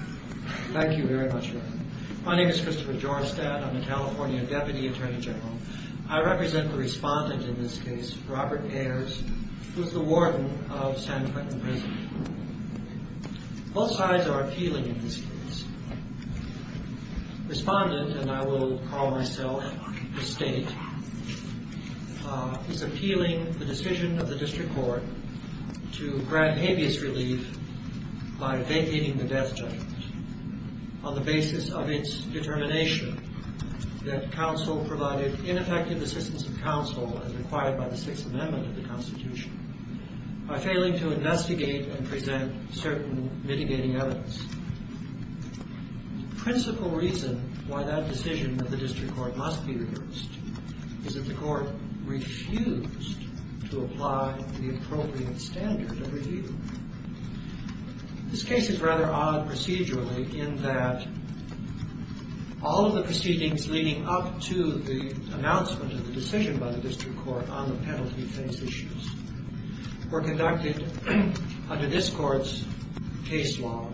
Thank you very much. My name is Christopher Jorstad. I'm a California Deputy Attorney General. I represent the respondent in this case, Robert Ayers, who is the warden of San Quentin Prison. Both sides are appealing in this case. Respondent, and I will call myself the State, is appealing the decision of the District Court to grant habeas relief by vacating the death judgment on the basis of its determination that counsel provided ineffective assistance of counsel as required by the Sixth Amendment of the Constitution. By failing to investigate and present certain mitigating evidence. The principal reason why that decision of the District Court must be reversed is that the Court refused to apply the appropriate standard of review. This case is rather odd procedurally in that all of the proceedings leading up to the announcement of the decision by the District Court on the penalty-based issues were conducted under this Court's case law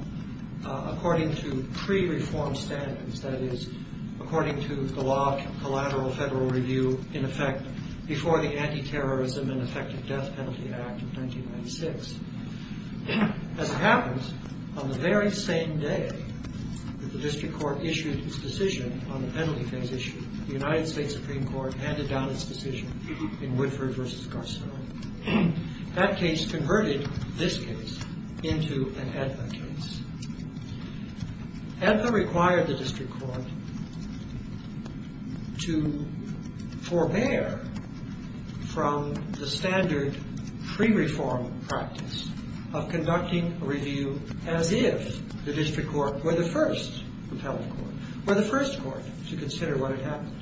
according to pre-reformed standards, that is, according to the law of collateral federal review in effect before the Antiterrorism and Effective Death Penalty Act of 1996. As it happens, on the very same day that the District Court issued its decision on the penalty-based issue, the United States Supreme Court handed down its decision in Woodford v. Garcello. That case converted this case into an AEDMA case. AEDMA required the District Court to forbear from the standard pre-reformed practice of conducting a review as if the District Court were the first repellent court, were the first court to consider what had happened.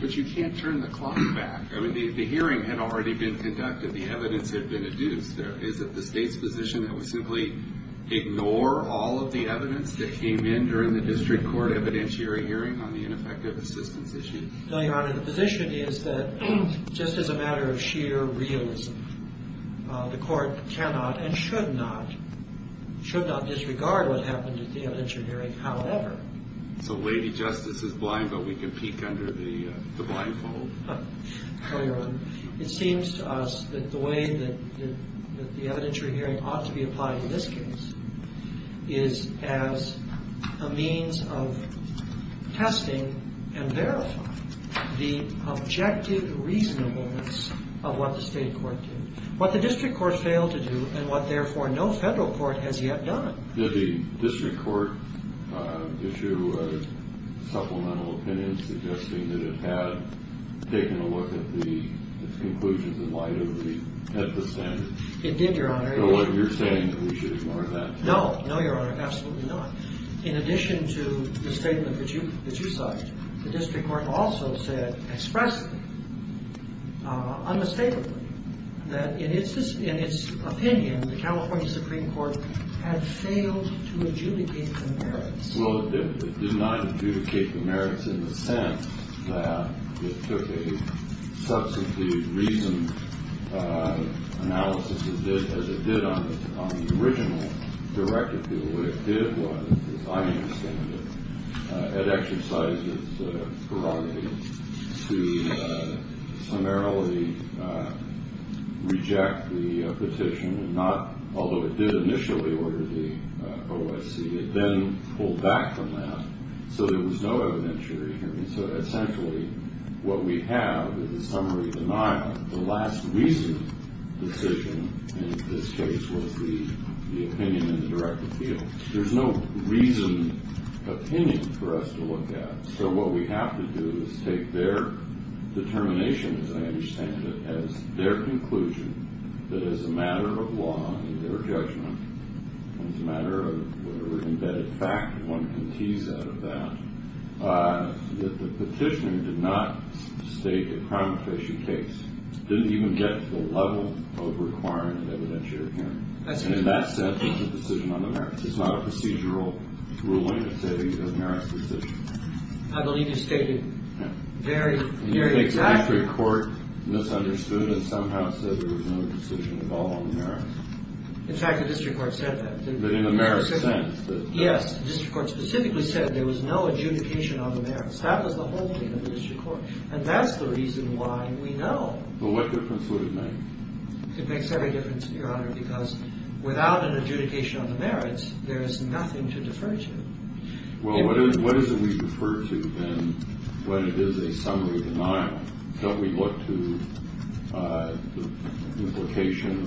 But you can't turn the clock back. I mean, the hearing had already been conducted. The evidence had been adduced. Is it the State's position that we simply ignore all of the evidence that came in during the District Court evidentiary hearing on the ineffective assistance issue? No, Your Honor. The position is that just as a matter of sheer realism, the Court cannot and should not disregard what happened at the evidentiary hearing, however. So Lady Justice is blind, but we can peek under the blindfold. No, Your Honor. It seems to us that the way that the evidentiary hearing ought to be applied in this case is as a means of testing and verifying the objective reasonableness of what the State Court did, what the District Court failed to do, and what, therefore, no federal court has yet done. Did the District Court issue a supplemental opinion suggesting that it had taken a look at the conclusions in light of the standard? It did, Your Honor. So you're saying that we should ignore that? No. No, Your Honor. Absolutely not. In addition to the statement that you cite, the District Court also said expressly, unmistakably, that in its opinion, the California Supreme Court had failed to adjudicate the merits. What it did was, as I understand it, it exercised its prerogative to summarily reject the petition, although it did initially order the OSC. It then pulled back from that, so there was no evidentiary hearing. And so essentially what we have is a summary denial. The last recent decision in this case was the opinion in the direct appeal. There's no reasoned opinion for us to look at, so what we have to do is take their determination, as I understand it, as their conclusion that as a matter of law and their judgment, as a matter of embedded fact, one can tease out of that, that the petitioner did not state a crime-of-patient case. Didn't even get to the level of requirement of evidentiary hearing. And in that sense, it's a decision on the merits. It's not a procedural ruling that says it's a merits decision. I believe you stated very, very exactly. And you think the District Court misunderstood and somehow said there was no decision at all on the merits. In fact, the District Court said that. But in a merits sense? Yes. The District Court specifically said there was no adjudication on the merits. That was the whole thing of the District Court. And that's the reason why we know. Well, what difference would it make? It makes every difference, Your Honor, because without an adjudication on the merits, there is nothing to defer to. Well, what is it we refer to, then, when it is a summary denial? Don't we look to the implication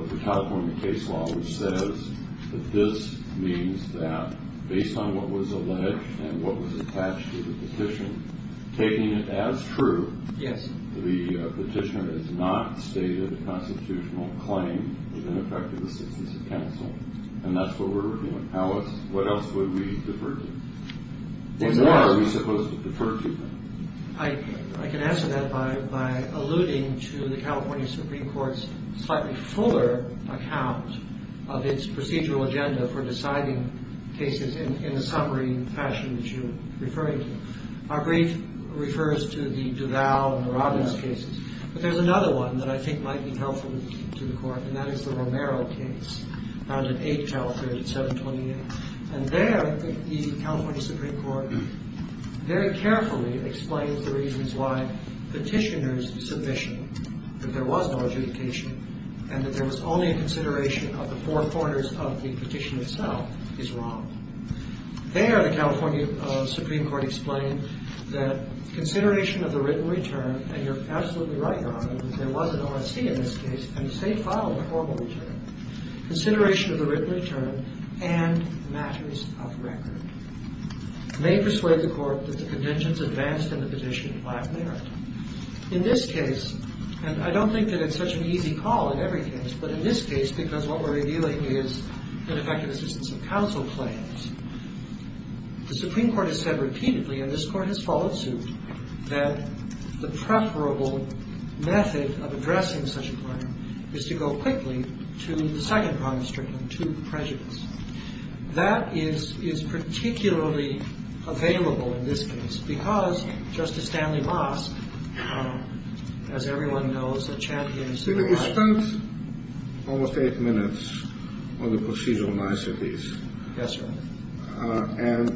of the California case law, which says that this means that based on what was alleged and what was attached to the petition, taking it as true, the petitioner has not stated a constitutional claim with ineffective assistance of counsel. And that's what we're looking at. Alice, what else would we defer to? What more are we supposed to defer to, then? I can answer that by alluding to the California Supreme Court's slightly fuller account of its procedural agenda for deciding cases in the summary fashion that you're referring to. Our brief refers to the Duval and the Robbins cases. But there's another one that I think might be helpful to the Court, and that is the Romero case, found in H.L. 3728. And there, the California Supreme Court very carefully explains the reasons why petitioner's submission, that there was no adjudication and that there was only a consideration of the four corners of the petition itself, is wrong. There, the California Supreme Court explained that consideration of the written return, and you're absolutely right, Your Honor, that there was an ORC in this case, and the same filed a formal return, consideration of the written return and matters of record, may persuade the Court that the conventions advanced in the petition lack merit. In this case, and I don't think that it's such an easy call in every case, but in this case, because what we're revealing is ineffective assistance of counsel claims, the Supreme Court has said repeatedly, and this Court has followed suit, that the preferable method of addressing such a claim is to go quickly to the second problem stricken, to prejudice. That is particularly available in this case, because Justice Stanley Moss, as everyone knows, a champion of civil rights. You spent almost eight minutes on the procedural niceties. Yes, sir. And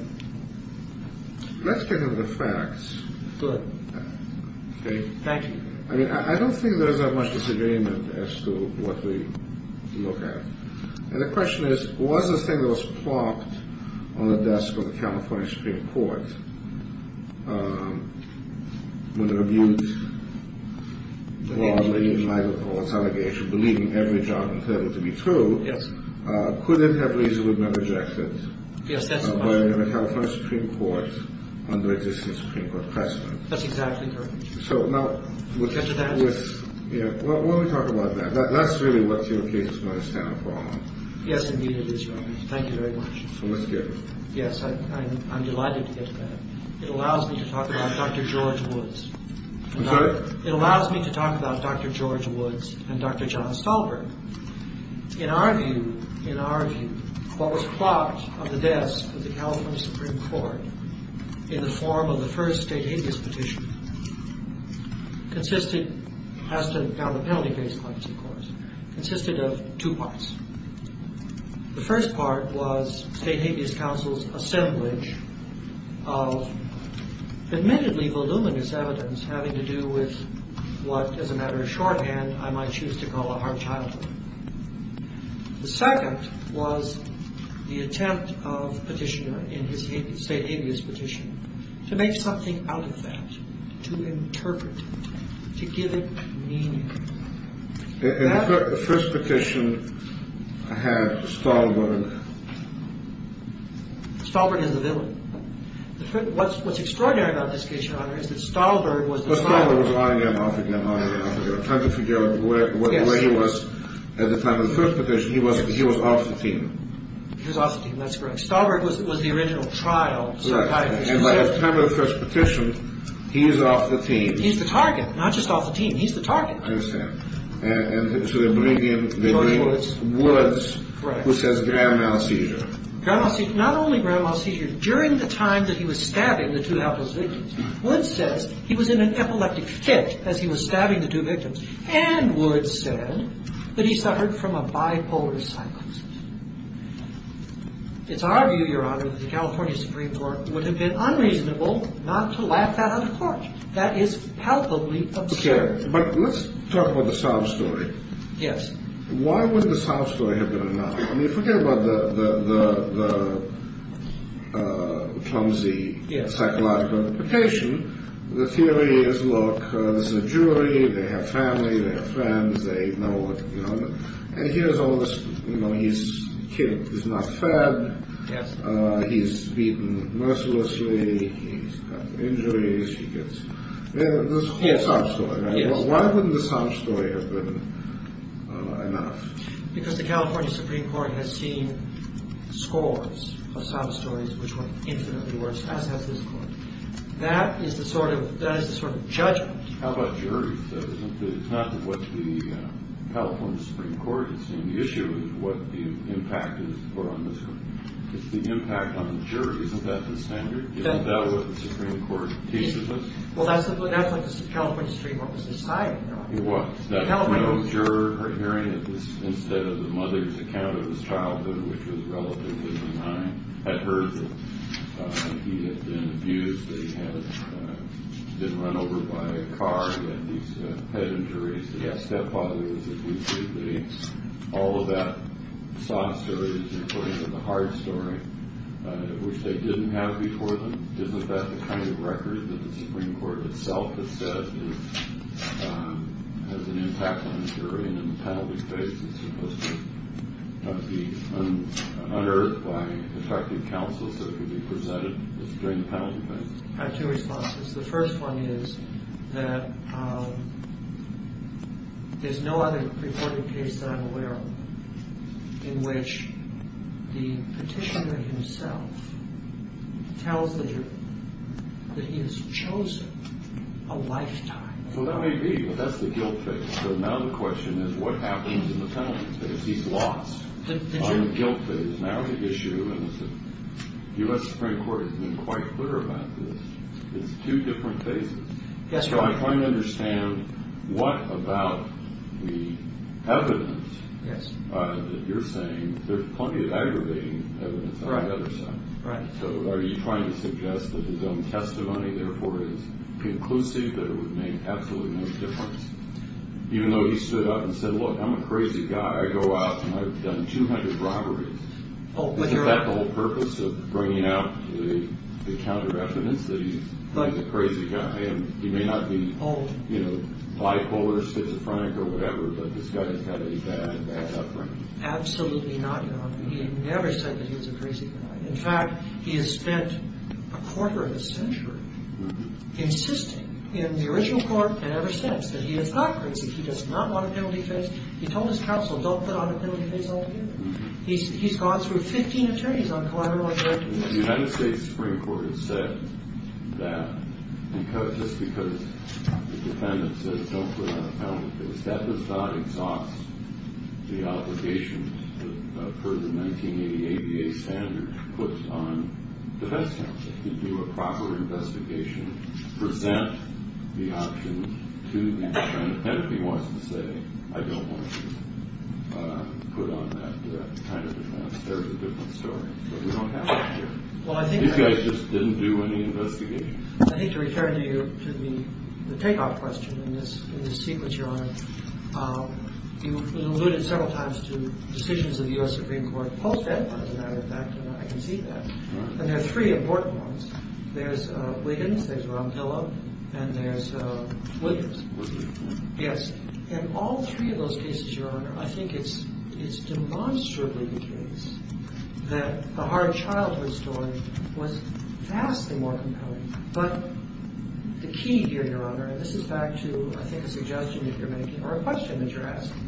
let's get to the facts. Go ahead. Okay. Thank you. I mean, I don't think there's that much disagreement as to what we look at. And the question is, was the thing that was plopped on the desk of the California Supreme Court, with a rebuke broadly in light of Paul's allegation, believing every judgment said it to be true. Yes. Could it have reasonably been rejected? Yes, that's correct. By the California Supreme Court under existing Supreme Court precedent. That's exactly correct. So, now. Get to that. Yeah, well, let me talk about that. That's really what your case is going to stand upon. Yes, indeed it is, Your Honor. Thank you very much. So let's get to that. Yes, I'm delighted to get to that. It allows me to talk about Dr. George Woods. I'm sorry? It allows me to talk about Dr. George Woods and Dr. John Stolberg. In our view, in our view, what was plopped on the desk of the California Supreme Court, in the form of the first state habeas petition, consisted, has to count the penalty case points, of course, consisted of two parts. The first part was state habeas counsel's assemblage of admittedly voluminous evidence having to do with what, as a matter of shorthand, I might choose to call a hard childhood. The second was the attempt of petitioner in his state habeas petition to make something out of that, to interpret it, to give it meaning. And the first petition had Stolberg. Stolberg is the villain. What's extraordinary about this case, Your Honor, is that Stolberg was the... But Stolberg was on and off again, on and off again. I'm trying to figure out where he was at the time of the first petition. He was off the team. He was off the team. That's correct. Stolberg was the original trial psychiatrist. And by the time of the first petition, he is off the team. He's the target, not just off the team. He's the target. I understand. And so they bring in... George Woods. Woods. Correct. Who says grand mal seizure. Grand mal seizure. Not only grand mal seizure. During the time that he was stabbing the two outpost victims, Woods says he was in an epileptic fit as he was stabbing the two victims. And Woods said that he suffered from a bipolar psychosis. It's our view, Your Honor, that the California Supreme Court would have been unreasonable not to lap that on the court. That is palpably absurd. Okay. But let's talk about the South story. Yes. Why would the South story have been enough? I mean, forget about the clumsy psychological implication. The theory is, look, this is a jury. They have family. They have friends. They know what, you know. And here's all this, you know, he's killed. He's not fed. Yes. He's beaten mercilessly. He's got injuries. There's a whole South story. Why wouldn't the South story have been enough? Because the California Supreme Court has seen scores of South stories which were infinitely worse, as has this court. That is the sort of judgment. How about juries, though? It's not what the California Supreme Court has seen. The issue is what the impact is for on this court. It's the impact on the jury. Isn't that the standard? Isn't that what the Supreme Court teaches us? Well, that's what the California Supreme Court was deciding, though. It was. The California Supreme Court. No, the juror hearing it was instead of the mother's account of his childhood, which was relatively benign, had heard that he had been abused, that he had been run over by a car, that he's had head injuries, that his stepfather was abused, all of that South stories, including the hard story, which they didn't have before them. Isn't that the kind of record that the Supreme Court itself has said has an impact on the jury? And in the penalty phase, it's supposed to be unearthed by effective counsel so it can be presented during the penalty phase. I have two responses. The first one is that there's no other reporting case that I'm aware of in which the petitioner himself tells the juror that he has chosen a lifetime. So that may be, but that's the guilt phase. So now the question is what happens in the penalty phase? He's lost on the guilt phase. Now the issue is the U.S. Supreme Court has been quite clear about this. It's two different phases. I'm trying to understand what about the evidence that you're saying. There's plenty of aggravating evidence on the other side. So are you trying to suggest that his own testimony, therefore, is conclusive, that it would make absolutely no difference? Even though he stood up and said, look, I'm a crazy guy. I go out and I've done 200 robberies. Isn't that the whole purpose of bringing out the counter evidence that he's a crazy guy? He may not be, you know, bipolar, schizophrenic or whatever, but this guy has had a bad, bad upbringing. Absolutely not, Your Honor. He never said that he was a crazy guy. In fact, he has spent a quarter of a century insisting in the original court and ever since that he is not crazy. He does not want a penalty phase. He told his counsel don't put on a penalty phase altogether. He's gone through 15 attorneys on collateral abuse. The United States Supreme Court has said that just because the defendant says don't put on a penalty phase, that does not exhaust the obligation per the 1980 ADA standard put on defense counsel to do a proper investigation, present the option to the defendant. And if he wants to say I don't want to put on that kind of defense, there's a different story. But we don't have that here. These guys just didn't do any investigation. I think to return to the takeoff question in this sequence, Your Honor, you alluded several times to decisions of the U.S. Supreme Court post-Edward, as a matter of fact, and I can see that. And there are three important ones. There's Wiggins, there's Ron Pillow, and there's Wiggins. Yes. In all three of those cases, Your Honor, I think it's demonstrably the case that the hard childhood story was vastly more compelling. But the key here, Your Honor, and this is back to I think a suggestion that you're making or a question that you're asking,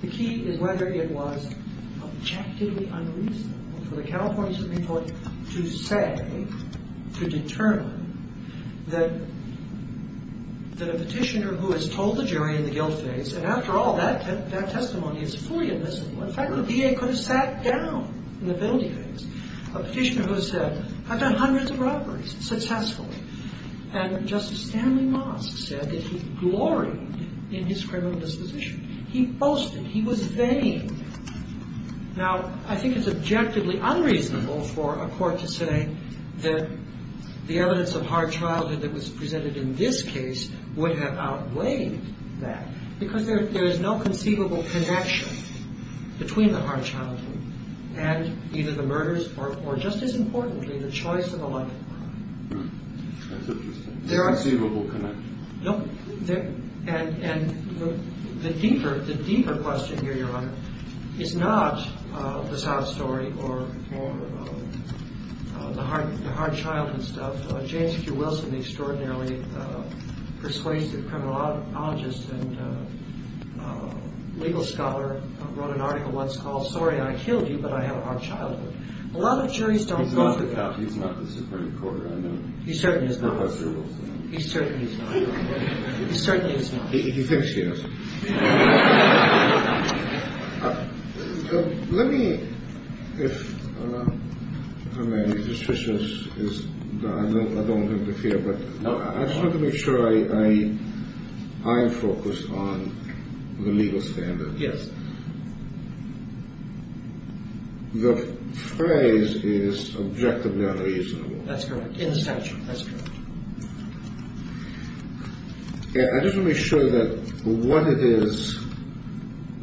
the key is whether it was objectively unreasonable for the California Supreme Court to say, to determine that a petitioner who has told the jury in the guilt phase, and after all, that testimony is fully admissible. In fact, the VA could have sat down in the penalty phase. A petitioner who said I've done hundreds of robberies successfully. And Justice Stanley Mosk said that he gloried in his criminal disposition. He boasted. He was vain. Now, I think it's objectively unreasonable for a court to say that the evidence of hard childhood that was presented in this case would have outweighed that. Because there is no conceivable connection between the hard childhood and either the murders or, just as importantly, the choice of a life. There are. Conceivable connection. And the deeper question here, Your Honor, is not the sob story or the hard childhood stuff. James Q. Wilson, the extraordinarily persuasive criminologist and legal scholar, wrote an article once called Sorry, I killed you, but I have a hard childhood. A lot of juries don't. He's not the Supreme Court. He certainly is. He certainly is. He thinks he is. Let me, if, I don't want him to feel, but I just want to make sure I am focused on the legal standard. Yes. The phrase is objectively unreasonable. That's correct. In the statute. That's correct. I just want to make sure that what it is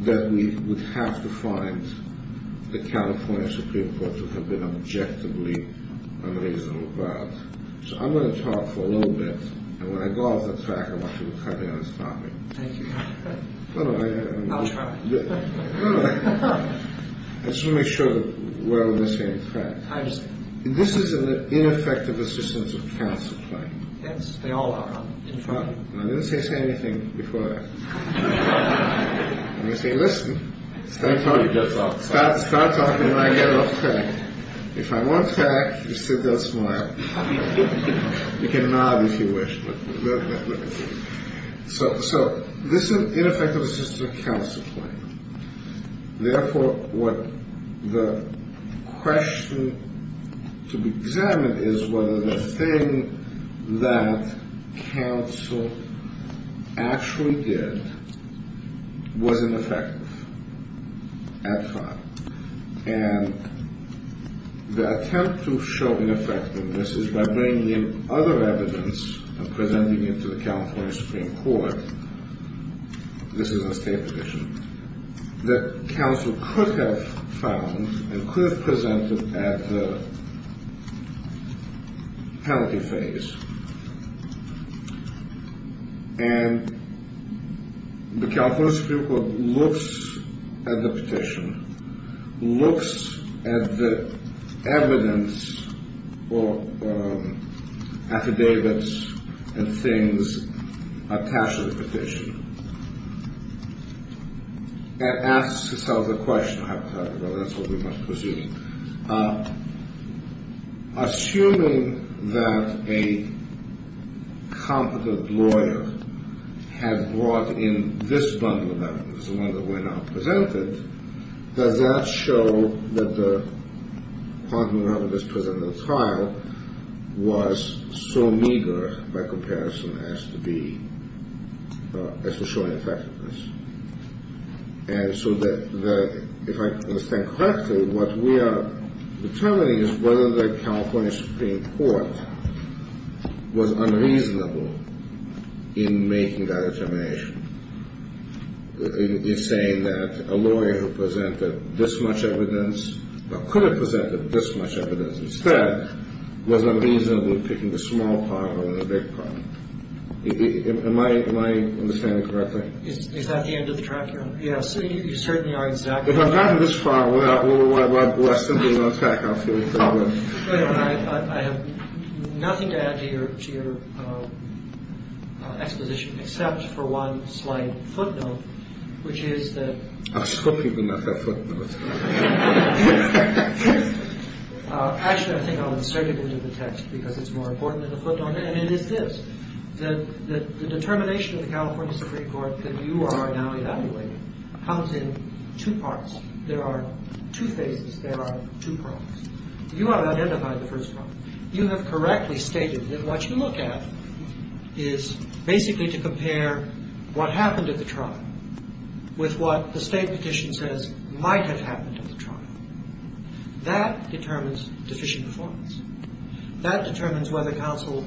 that we would have to find the California Supreme Court to have been objectively unreasonable about. So I'm going to talk for a little bit. And when I go off the track, I want you to cut me on this topic. Thank you. No, no. I'll try. No, no. I just want to make sure that we're on the same track. I understand. This is an ineffective assistance of counsel claim. Yes, they all are. I didn't say say anything before that. I say listen. Start talking when I get off track. If I'm on track, you sit there and smile. You can nod if you wish. So this ineffective assistance of counsel claim. Therefore, what the question to be examined is whether the thing that counsel actually did was ineffective at trial. And the attempt to show ineffectiveness is by bringing in other evidence and presenting it to the California Supreme Court. This is a state petition that counsel could have found and could have presented at the penalty phase. And the California Supreme Court looks at the petition, looks at the evidence or affidavits and things attached to the petition, and asks itself the question. Well, that's what we must presume. Assuming that a competent lawyer had brought in this bundle of evidence, the one that we're now presenting, does that show that the quantum of evidence presented at trial was so meager by comparison as to be, as to show ineffectiveness? And so the, if I understand correctly, what we are determining is whether the California Supreme Court was unreasonable in making that determination. In saying that a lawyer who presented this much evidence, or could have presented this much evidence instead, was unreasonable in picking the small part over the big part. Am I understanding correctly? Is that the end of the track you're on? Yes. You certainly are exactly right. If I've gotten this far, well, I simply want to tack on a few things. Go ahead. I have nothing to add to your exposition except for one slight footnote, which is that. I'm scooping them up, that footnote. Actually, I think I'll insert it into the text because it's more important than the footnote. And it is this, that the determination of the California Supreme Court that you are now evaluating comes in two parts. There are two phases. There are two problems. You have identified the first problem. You have correctly stated that what you look at is basically to compare what happened at the trial with what the State petition says might have happened at the trial. That determines deficient performance. That determines whether counsel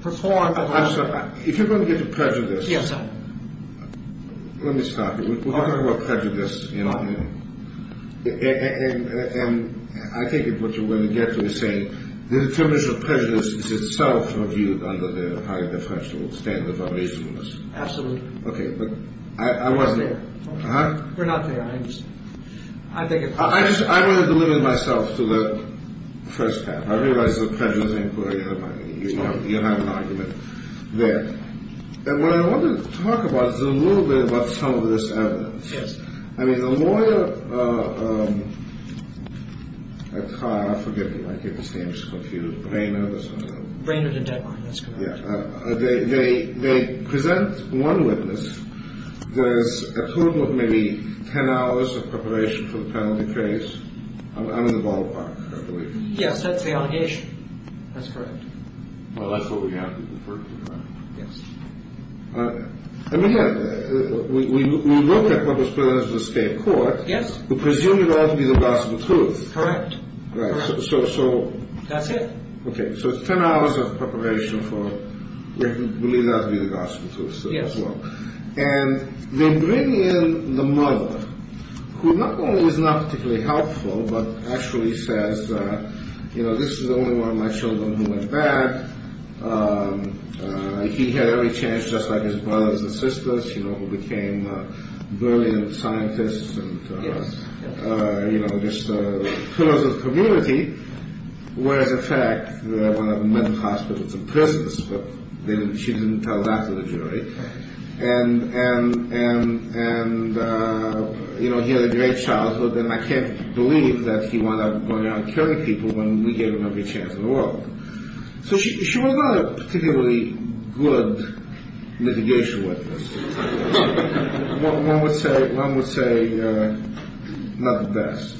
performed. I'm sorry. If you're going to get to prejudice. Yes, sir. Let me stop you. We're talking about prejudice. And I think what you're going to get to is saying the determination of prejudice is itself reviewed under the high differential standard of reasonableness. Absolutely. Okay. But I wasn't there. Okay. You're not there. I understand. I want to deliver myself to the first half. I realize that prejudice ain't good. You have an argument there. And what I wanted to talk about is a little bit about some of this evidence. Yes. I mean, the lawyer at trial, forgive me. I get this name. I'm just confused. Brainard or something. Brainard and Deadline. That's correct. Yeah. They present one witness. There's a total of maybe ten hours of preparation for the penalty case. I'm in the ballpark, I believe. Yes, that's the allegation. That's correct. Well, that's what we have to defer to, right? Yes. Let me ask. We looked at what was presented to the state court. Yes. We presume it ought to be the possible truth. Correct. So. That's it. Okay. So it's ten hours of preparation for what we believe ought to be the possible truth. Yes. And they bring in the mother, who not only is not particularly helpful, but actually says, you know, this is the only one of my children who went back. He had every chance, just like his brothers and sisters, you know, who became brilliant scientists. Yes. You know, just pillars of community. Whereas, in fact, they're one of the mental hospitals and prisons, but she didn't tell that to the jury. And, you know, he had a great childhood, and I can't believe that he wound up going around killing people when we gave him every chance in the world. So she was not a particularly good mitigation witness. One would say not the best.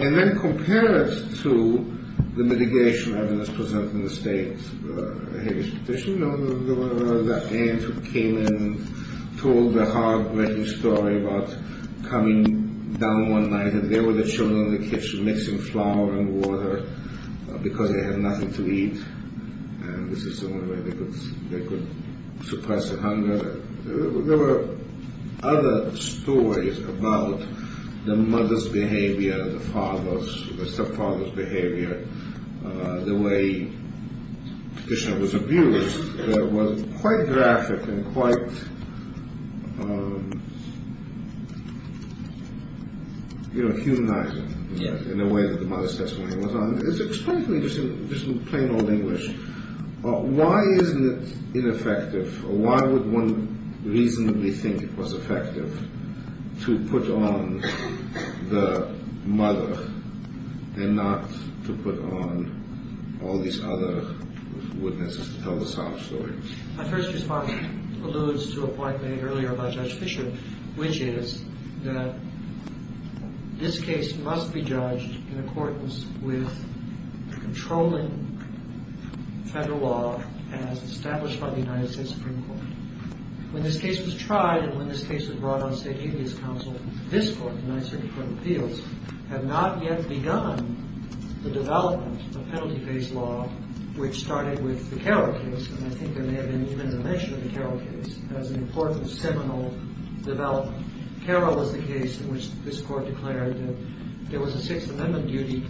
And then compare it to the mitigation evidence presented in the state's habeas petition. You know, that aunt who came in and told the heartbreaking story about coming down one night and there were the children in the kitchen mixing flour and water because they had nothing to eat, and this is the only way they could suppress their hunger. There were other stories about the mother's behavior, the father's, the stepfather's behavior, the way the petitioner was abused that was quite graphic and quite, you know, humanizing. Yes. In a way that the mother's testimony was on. It's extremely interesting, just in plain old English. Why isn't it ineffective? Why would one reasonably think it was effective to put on the mother and not to put on all these other witnesses to tell the sob story? My first response alludes to a point made earlier by Judge Fisher, which is that this case must be judged in accordance with the controlling federal law as established by the United States Supreme Court. When this case was tried and when this case was brought on state habeas counsel, this court, the United States Supreme Court of Appeals, had not yet begun the development of penalty-based law which started with the Carroll case, and I think there may have been even a mention of the Carroll case as an important seminal development. Carroll was the case in which this court declared that there was a Sixth Amendment duty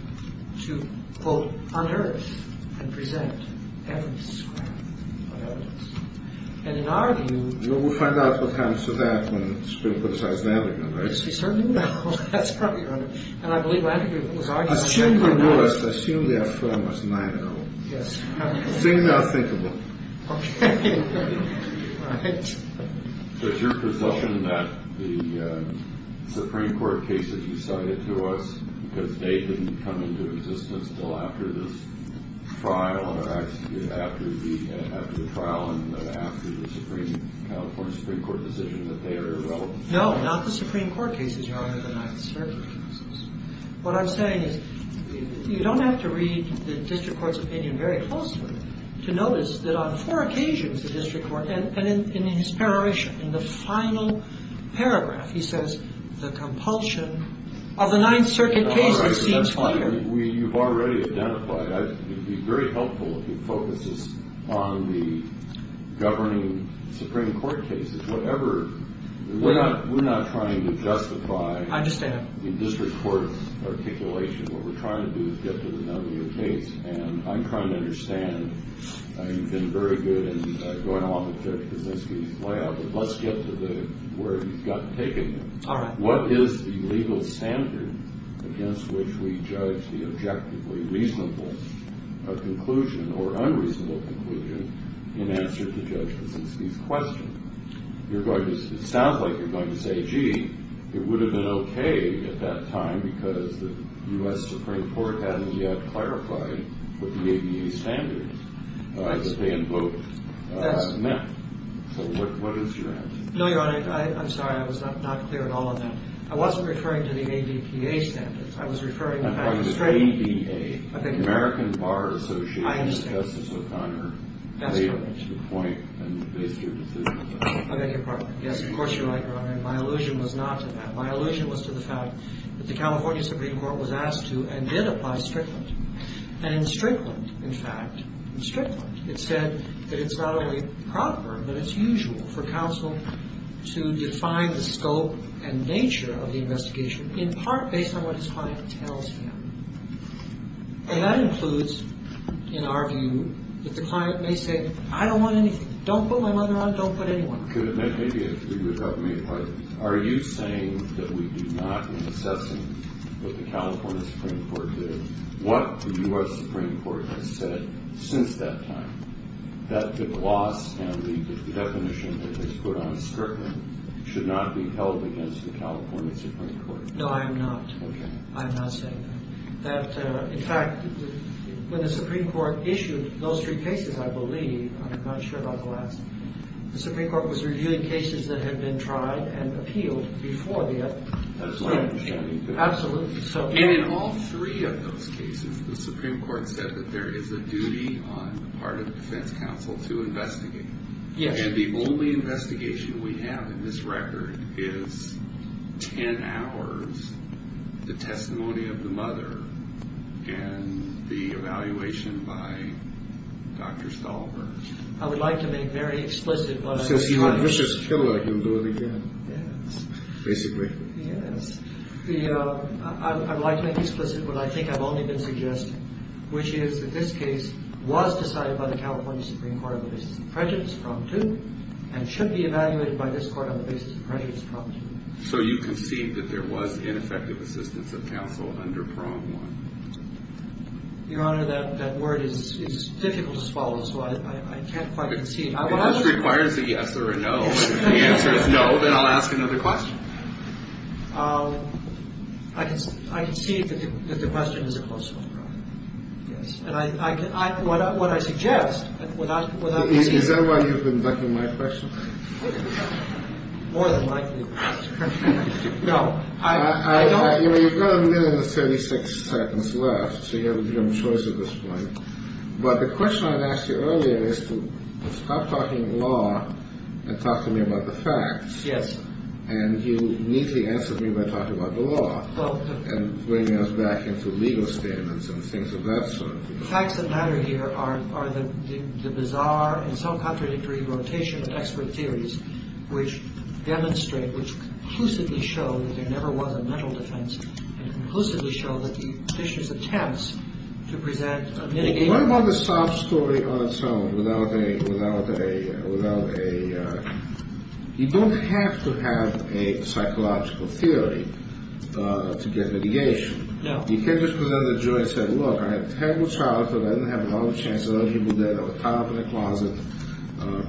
to, quote, unearth and present evidence of evidence. And in our view... Well, we'll find out what comes to that when the Supreme Court decides that again, right? We certainly will. That's probably right. And I believe Landry was already... Assume they were. Assume their firm was 9-0. Yes. Seem not thinkable. Okay. All right. So it's your presumption that the Supreme Court cases you cited to us, because they didn't come into existence until after this trial, or actually after the trial and after the California Supreme Court decision, that they are irrelevant? No, not the Supreme Court cases, Your Honor, the Ninth Circuit cases. What I'm saying is you don't have to read the district court's opinion very closely to notice that on four occasions the district court, and in his pareration, in the final paragraph, he says the compulsion of the Ninth Circuit cases seems clear. All right. That's fine. You've already identified. It would be very helpful if you focus this on the governing Supreme Court cases, whatever. We're not trying to justify... I understand. In district court's articulation, what we're trying to do is get to the nonlinear case, and I'm trying to understand. You've been very good in going along with Judge Kaczynski's layout, but let's get to where he's got to take it. All right. What is the legal standard against which we judge the objectively reasonable conclusion or unreasonable conclusion in answer to Judge Kaczynski's question? It sounds like you're going to say, gee, it would have been okay at that time because the U.S. Supreme Court hadn't yet clarified what the ABA standards that they invoked meant. So what is your answer? No, Your Honor. I'm sorry. I was not clear at all on that. I wasn't referring to the ADPA standards. I was referring to... I understand. That's correct. I beg your pardon. Yes, of course you're right, Your Honor, and my allusion was not to that. My allusion was to the fact that the California Supreme Court was asked to and did apply Strickland. And in Strickland, in fact, in Strickland, it said that it's not only proper, but it's usual for counsel to define the scope and nature of the investigation in part based on what his client tells him. And that includes, in our view, that the client may say, I don't want anything. Don't put my mother on it. Don't put anyone on it. Could it maybe be a three-word argument? Are you saying that we do not, in assessing what the California Supreme Court did, what the U.S. Supreme Court has said since that time, that the gloss and the definition that they put on Strickland should not be held against the California Supreme Court? No, I'm not. Okay. I'm not saying that. That, in fact, when the Supreme Court issued those three cases, I believe, I'm not sure about the last one, the Supreme Court was reviewing cases that had been tried and appealed before the appellation. Absolutely. And in all three of those cases, the Supreme Court said that there is a duty on the part of the defense counsel to investigate. Yes. And the only investigation we have in this record is 10 hours, the testimony of the mother, and the evaluation by Dr. Stolper. I would like to make very explicit what I'm trying to say. Since he was a vicious killer, he'll do it again. Yes. Basically. Yes. I'd like to make explicit what I think I've only been suggesting, which is that this case was decided by the California Supreme Court on the basis of prejudice, prong two, and should be evaluated by this Court on the basis of prejudice, prong two. So you concede that there was ineffective assistance of counsel under prong one? Your Honor, that word is difficult to swallow, so I can't quite concede. It requires a yes or a no. If the answer is no, then I'll ask another question. I concede that the question is a close one, Your Honor. Yes. And I can – what I suggest, what I'm suggesting – Is that why you've been ducking my question? More than likely, Your Honor. No. I don't – You know, you've got a minute and 36 seconds left, so you have a little choice at this point. But the question I asked you earlier is to stop talking law and talk to me about the facts. Yes. And you neatly answered me by talking about the law and bringing us back into legal statements and things of that sort. The facts that matter here are the bizarre and self-contradictory rotation of expert theories which demonstrate, which conclusively show that there never was a mental defense and conclusively show that the petitioner's attempts to present a mitigating – to have a psychological theory to get mitigation. No. You can't just present a jury and say, look, I had a terrible childhood. I didn't have a lot of chances. Other people did. I was caught up in the closet.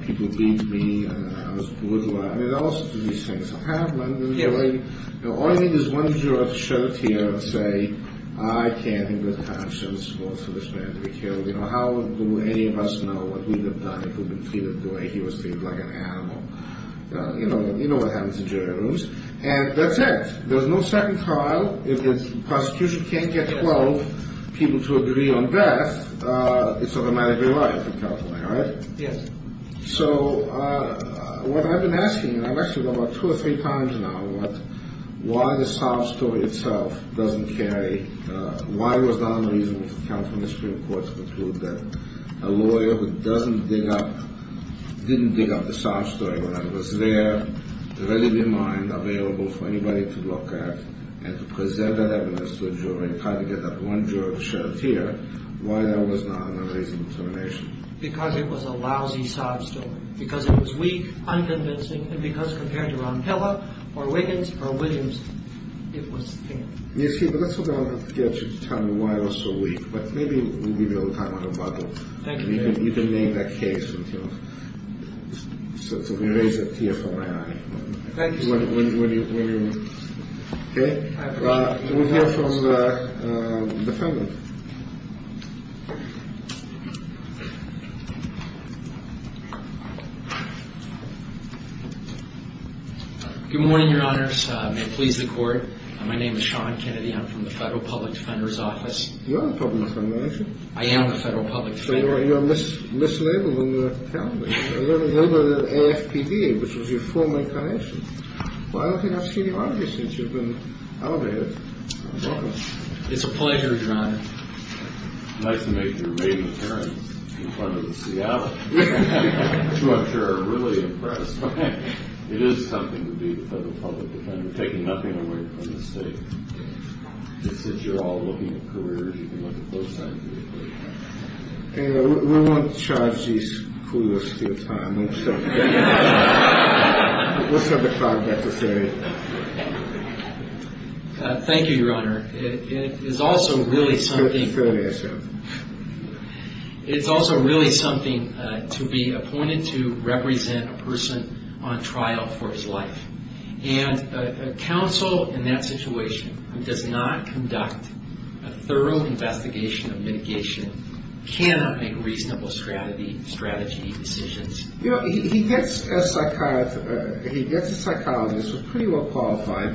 People beat me, and I was brutalized. I mean, there are all sorts of these things that happen. All you need is one juror to show up here and say, I can't, in good conscience, force this man to be killed. You know, how do any of us know what we would have done if we'd been treated the way he was treated, like an animal? You know what happens in jury rooms. And that's it. There's no second trial. If the prosecution can't get 12 people to agree on death, it's automatically life in California, right? Yes. So what I've been asking, and I've actually gone about two or three times now, why the sob story itself doesn't carry – why it was not unreasonable for the California Supreme Court to conclude that a lawyer who doesn't dig up – didn't dig up the sob story when it was there, readily in mind, available for anybody to look at, and to present that evidence to a juror and try to get that one juror to show up here, why that was not an unreasonable termination? Because it was a lousy sob story. Because it was weak, unconvincing, and because compared to Ron Pella or Wiggins or Williams, it was – You see, but that's what I'm going to have to get you to tell me why it was so weak. But maybe we'll give you a little time on the bottle. Thank you. You can name that case. So we raise a tear from my eye. Thank you, sir. When you – okay? I appreciate it. We'll hear from the defendant. Good morning, Your Honors. May it please the Court. My name is Sean Kennedy. I'm from the Federal Public Defender's Office. You're a public defender, aren't you? I am a Federal Public Defender. So you're mislabeled when you're telling me. You're labeled AFPB, which was your former connection. Well, I don't think I've seen you on here since you've been elevated. Welcome. It's a pleasure, Your Honor. Nice to make your maiden appearance in front of the Seattle, which I'm sure are really impressed. It is something to be a Federal Public Defender, taking nothing away from the state. It's that you're all looking at careers. You can look at both sides of the equation. Anyway, we won't charge these clueless people time. We'll set the time necessary. Thank you, Your Honor. It is also really something. It's a fair answer. It's also really something to be appointed to represent a person on trial for his life. And a counsel in that situation does not conduct a thorough investigation of mitigation, cannot make reasonable strategy decisions. He gets a psychologist who's pretty well qualified,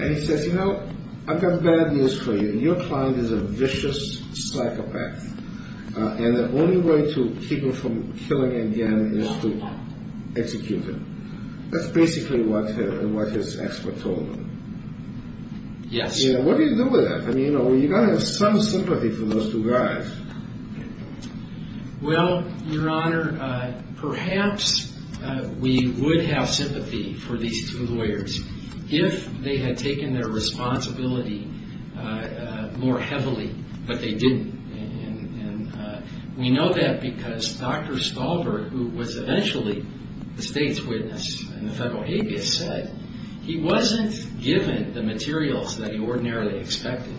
and he says, you know, I've got bad news for you. Your client is a vicious psychopath, and the only way to keep him from killing again is to execute him. That's basically what his expert told him. Yes. What do you do with that? I mean, you've got to have some sympathy for those two guys. Well, Your Honor, perhaps we would have sympathy for these two lawyers if they had taken their responsibility more heavily, but they didn't. And we know that because Dr. Stahlberg, who was eventually the state's witness in the federal habeas, said he wasn't given the materials that he ordinarily expected,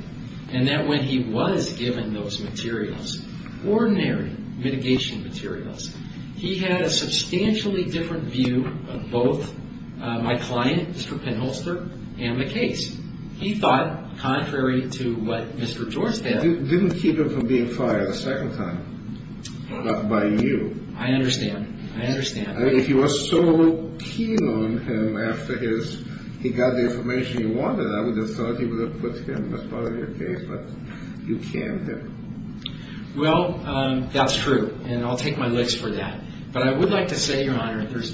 and that when he was given those materials, ordinary mitigation materials, he had a substantially different view of both my client, Mr. Penholster, and the case. He thought, contrary to what Mr. George said. You didn't keep him from being fired a second time, but by you. I understand. I understand. If you were so keen on him after he got the information you wanted, I would have thought you would have put him as part of your case, but you can't. Well, that's true, and I'll take my licks for that. But I would like to say, Your Honor, there's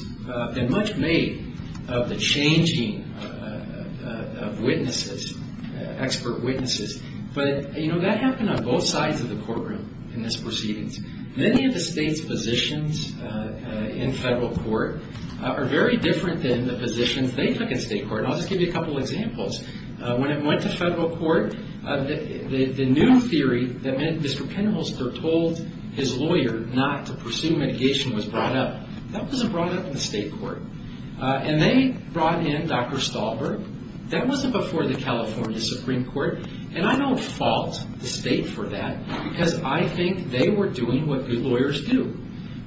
been much made of the changing of witnesses, expert witnesses. But, you know, that happened on both sides of the courtroom in this proceedings. Many of the state's positions in federal court are very different than the positions they took in state court. And I'll just give you a couple of examples. When it went to federal court, the new theory that Mr. Penholster told his lawyer not to pursue mitigation was brought up. That wasn't brought up in the state court. And they brought in Dr. Stahlberg. That wasn't before the California Supreme Court. And I don't fault the state for that because I think they were doing what good lawyers do,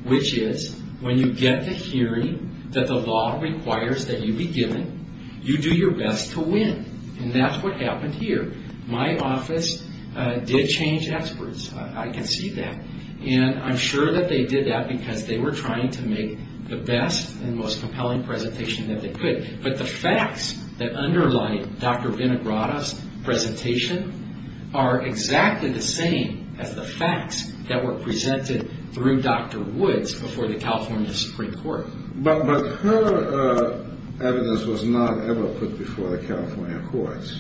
which is when you get the hearing that the law requires that you be given, you do your best to win. And that's what happened here. My office did change experts. I can see that. And I'm sure that they did that because they were trying to make the best and most compelling presentation that they could. But the facts that underlie Dr. Vinogradoff's presentation are exactly the same as the facts that were presented through Dr. Woods before the California Supreme Court. But her evidence was not ever put before the California courts.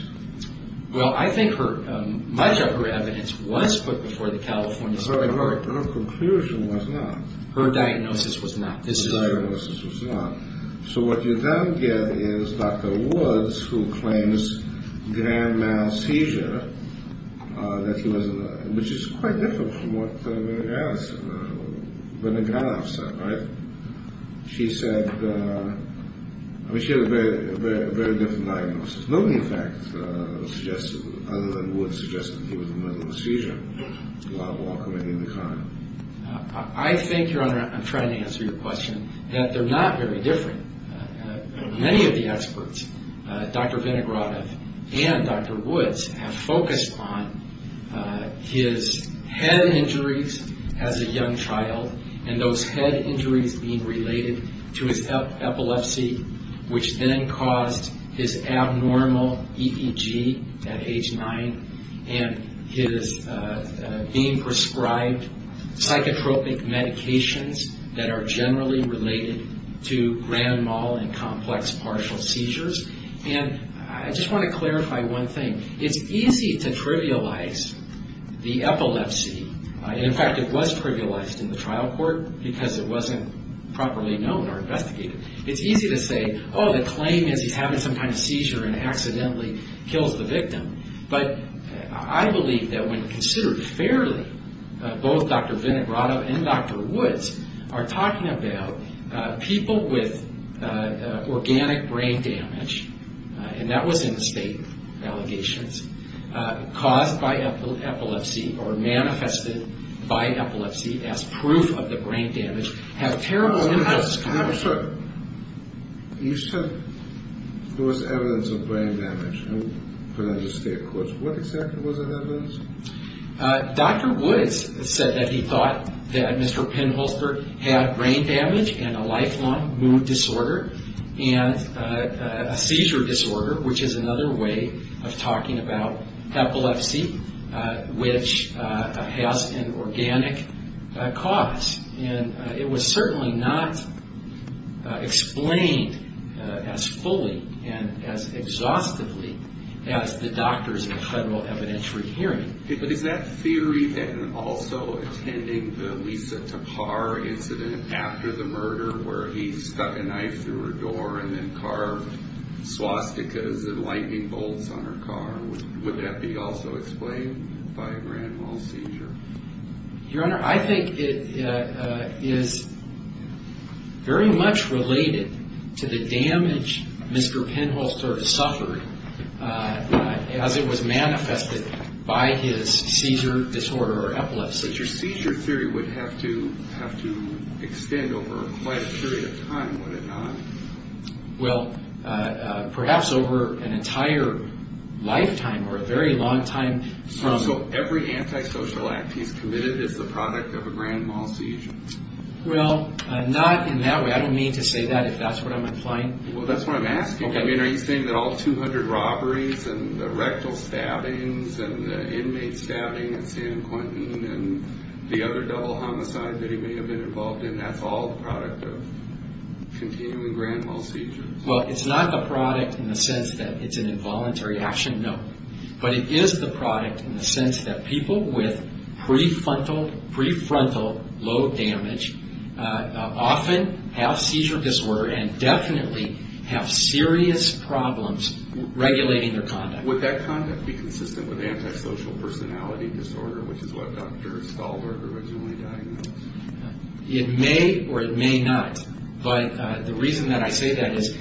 Well, I think much of her evidence was put before the California Supreme Court. Her conclusion was not. Her diagnosis was not. Her diagnosis was not. So what you then get is Dr. Woods, who claims grand mal seizure, which is quite different from what Vinogradoff said. Right? She said, I mean, she had a very different diagnosis. I think, Your Honor, I'm trying to answer your question, that they're not very different. Many of the experts, Dr. Vinogradoff and Dr. Woods, have focused on his head injuries as a young child and those head injuries being related to his epilepsy, which then caused his abnormalities, his abnormal EEG at age 9, and his being prescribed psychotropic medications that are generally related to grand mal and complex partial seizures. And I just want to clarify one thing. It's easy to trivialize the epilepsy. In fact, it was trivialized in the trial court because it wasn't properly known or investigated. It's easy to say, oh, the claim is he's having some kind of seizure and accidentally kills the victim. But I believe that when considered fairly, both Dr. Vinogradoff and Dr. Woods are talking about people with organic brain damage, and that was in the state allegations, caused by epilepsy or manifested by epilepsy as proof of the brain damage, have terrible impacts. You said there was evidence of brain damage in the state courts. What exactly was that evidence? Dr. Woods said that he thought that Mr. Penholzberg had brain damage and a lifelong mood disorder and a seizure disorder, which is another way of talking about epilepsy, which has an organic cause. And it was certainly not explained as fully and as exhaustively as the doctors in the federal evidentiary hearing. But is that theory then also attending the Lisa Tappar incident after the murder, where he stuck a knife through her door and then carved swastikas and lightning bolts on her car? Would that be also explained by a grand mal seizure? Your Honor, I think it is very much related to the damage Mr. Penholzberg suffered as it was manifested by his seizure disorder or epilepsy. Your seizure theory would have to extend over quite a period of time, would it not? Well, perhaps over an entire lifetime or a very long time. So every antisocial act he's committed is the product of a grand mal seizure? Well, not in that way. I don't mean to say that if that's what I'm implying. Well, that's what I'm asking. I mean, are you saying that all 200 robberies and the rectal stabbings and the inmate stabbing at San Quentin and the other double homicide that he may have been involved in, that's all the product of continuing grand mal seizures? Well, it's not the product in the sense that it's an involuntary action, no. But it is the product in the sense that people with prefrontal lobe damage often have seizure disorder and definitely have serious problems regulating their conduct. Would that conduct be consistent with antisocial personality disorder, which is what Dr. Stahlberg originally diagnosed? It may or it may not. But the reason that I say that is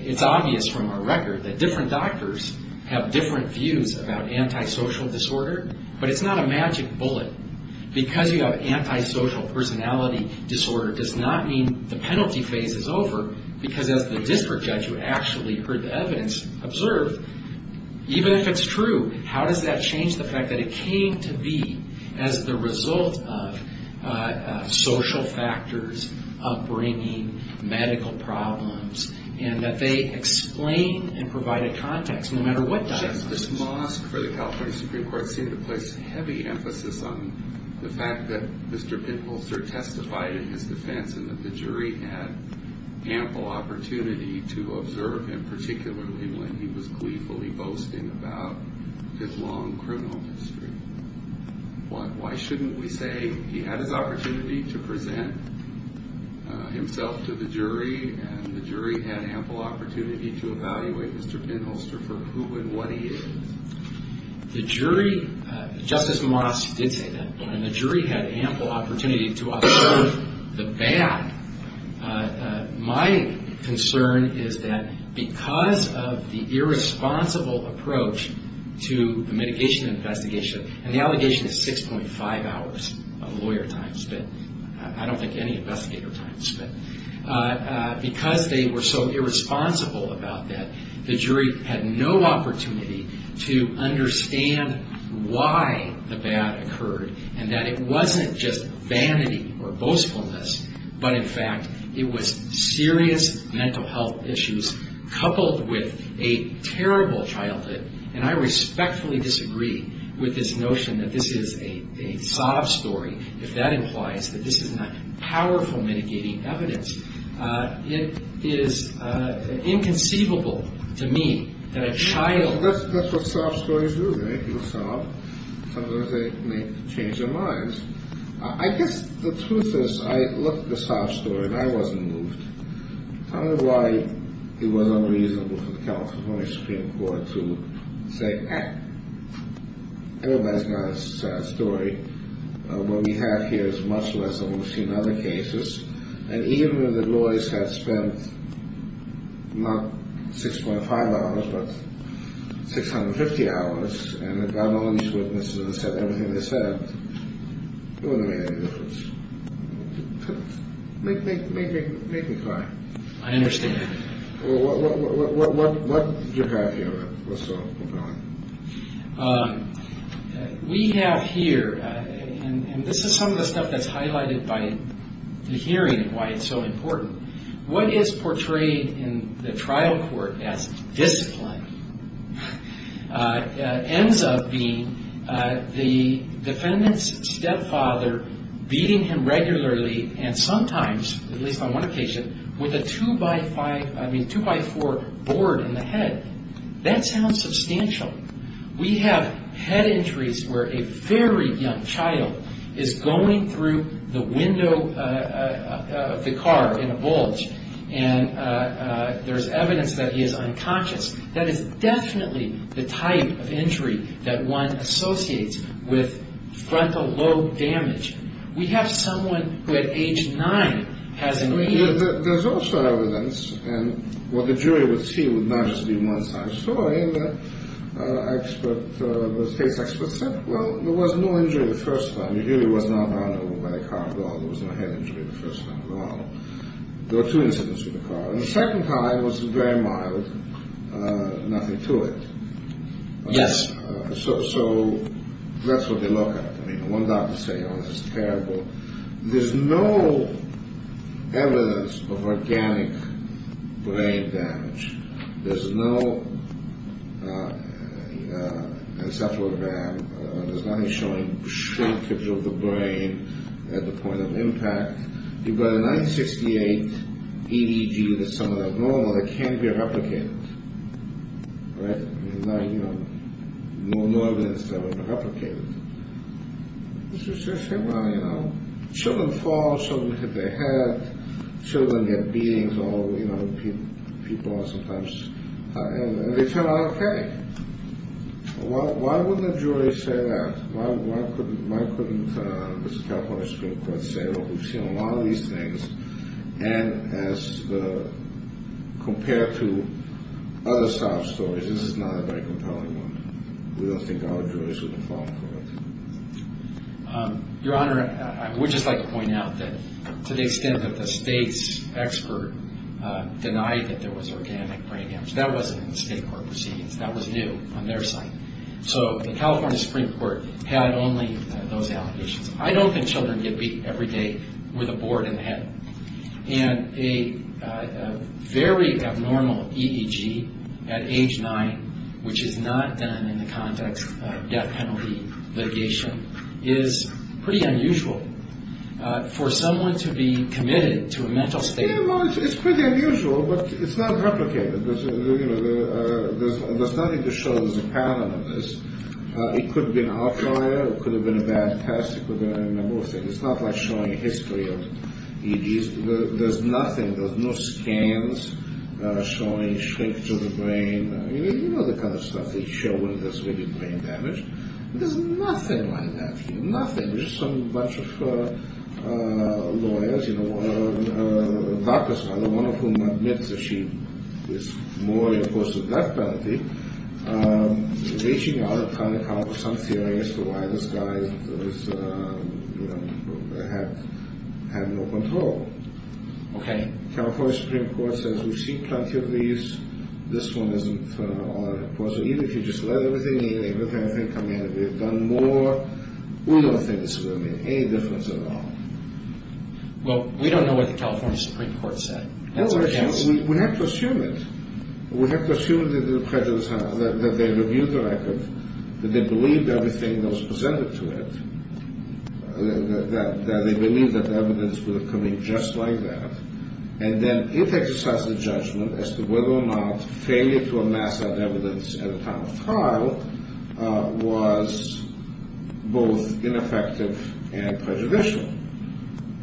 it's obvious from our record that different doctors have different views about antisocial disorder, but it's not a magic bullet. Because you have antisocial personality disorder does not mean the penalty phase is over, because as the district judge who actually heard the evidence observed, even if it's true, how does that change the fact that it came to be as the result of social factors upbringing, medical problems, and that they explain and provide a context no matter what diagnosis. This mosque for the California Supreme Court seemed to place heavy emphasis on the fact that Mr. Pinholzer testified in his defense and that the jury had ample opportunity to observe him, particularly when he was gleefully boasting about his long criminal history. Why shouldn't we say he had his opportunity to present himself to the jury and the jury had ample opportunity to evaluate Mr. Pinholzer for who and what he is? The jury, Justice Moss did say that, and the jury had ample opportunity to observe the bad. My concern is that because of the irresponsible approach to the mitigation investigation, and the allegation is 6.5 hours of lawyer time spent, I don't think any investigator time spent, because they were so irresponsible about that, the jury had no opportunity to understand why the bad occurred and that it wasn't just vanity or boastfulness, but in fact it was serious mental health issues coupled with a terrible childhood, and I respectfully disagree with this notion that this is a sob story if that implies that this is not powerful mitigating evidence. It is inconceivable to me that a child... I guess the truth is I looked at the sob story and I wasn't moved. I don't know why it was unreasonable for the California Supreme Court to say, ah, everybody's got a sad story. What we have here is much less than what we've seen in other cases, and even if the lawyers had spent not 6.5 hours, but 650 hours, and had gotten all these witnesses and said everything they said, it wouldn't have made any difference. Make me cry. I understand. What do you have here that's so compelling? We have here, and this is some of the stuff that's highlighted by the hearing and why it's so important, what is portrayed in the trial court as discipline? It ends up being the defendant's stepfather beating him regularly, and sometimes, at least on one occasion, with a two-by-four board in the head. That sounds substantial. We have head injuries where a very young child is going through the window of the car in a bulge, and there's evidence that he is unconscious. That is definitely the type of injury that one associates with frontal lobe damage. We have someone who, at age 9, has a knee injury. There's also evidence, and what the jury would see would not just be one side of the story, but the case experts said, well, there was no injury the first time. The injury was not done over by the car at all. There was no head injury the first time at all. There were two incidents with the car. The second time was very mild, nothing to it. Yes. So that's what they look at. I mean, one doctor would say, oh, this is terrible. There's no evidence of organic brain damage. There's no encephalogram. There's nothing showing shrinkage of the brain at the point of impact. You've got a 9-68 EDG that's somewhat abnormal that can't be replicated. Right? There's no evidence that it was replicated. They say, well, you know, children fall. Children hit their head. Children get beatings, you know, people sometimes. And they turn out okay. Why wouldn't the jury say that? Why couldn't the California Supreme Court say, well, we've seen a lot of these things, and as compared to other sob stories, this is not a very compelling one. We don't think our jurors would fall for it. Your Honor, I would just like to point out that to the extent that the state's expert denied that there was organic brain damage, that wasn't in the state court proceedings. That was new on their side. So the California Supreme Court had only those allegations. I don't think children get beat every day with a board in the head. And a very abnormal EDG at age 9, which is not done in the context of death penalty litigation, is pretty unusual for someone to be committed to a mental state. Well, it's pretty unusual, but it's not replicated. There's nothing to show there's a pattern of this. It could have been an outlier. It could have been a bad test. It could have been a number of things. It's not like showing a history of EDGs. There's nothing. There's no scans showing shrinkage of the brain. You know the kind of stuff they show when there's really brain damage. There's nothing like that here, nothing. There's just a bunch of lawyers, a doctor's fellow, one of whom admits that she was more in the course of death penalty, reaching out and trying to come up with some theories for why this guy had no control. Okay. California Supreme Court says we've seen plenty of these. This one isn't. Even if you just let everything in, everything come in, we've done more, we don't think it's going to make any difference at all. Well, we don't know what the California Supreme Court said. We have to assume it. We have to assume that they reviewed the record, that they believed everything that was presented to it, that they believed that the evidence would have come in just like that, and then it exercised a judgment as to whether or not failure to amass that evidence at a time of trial was both ineffective and prejudicial.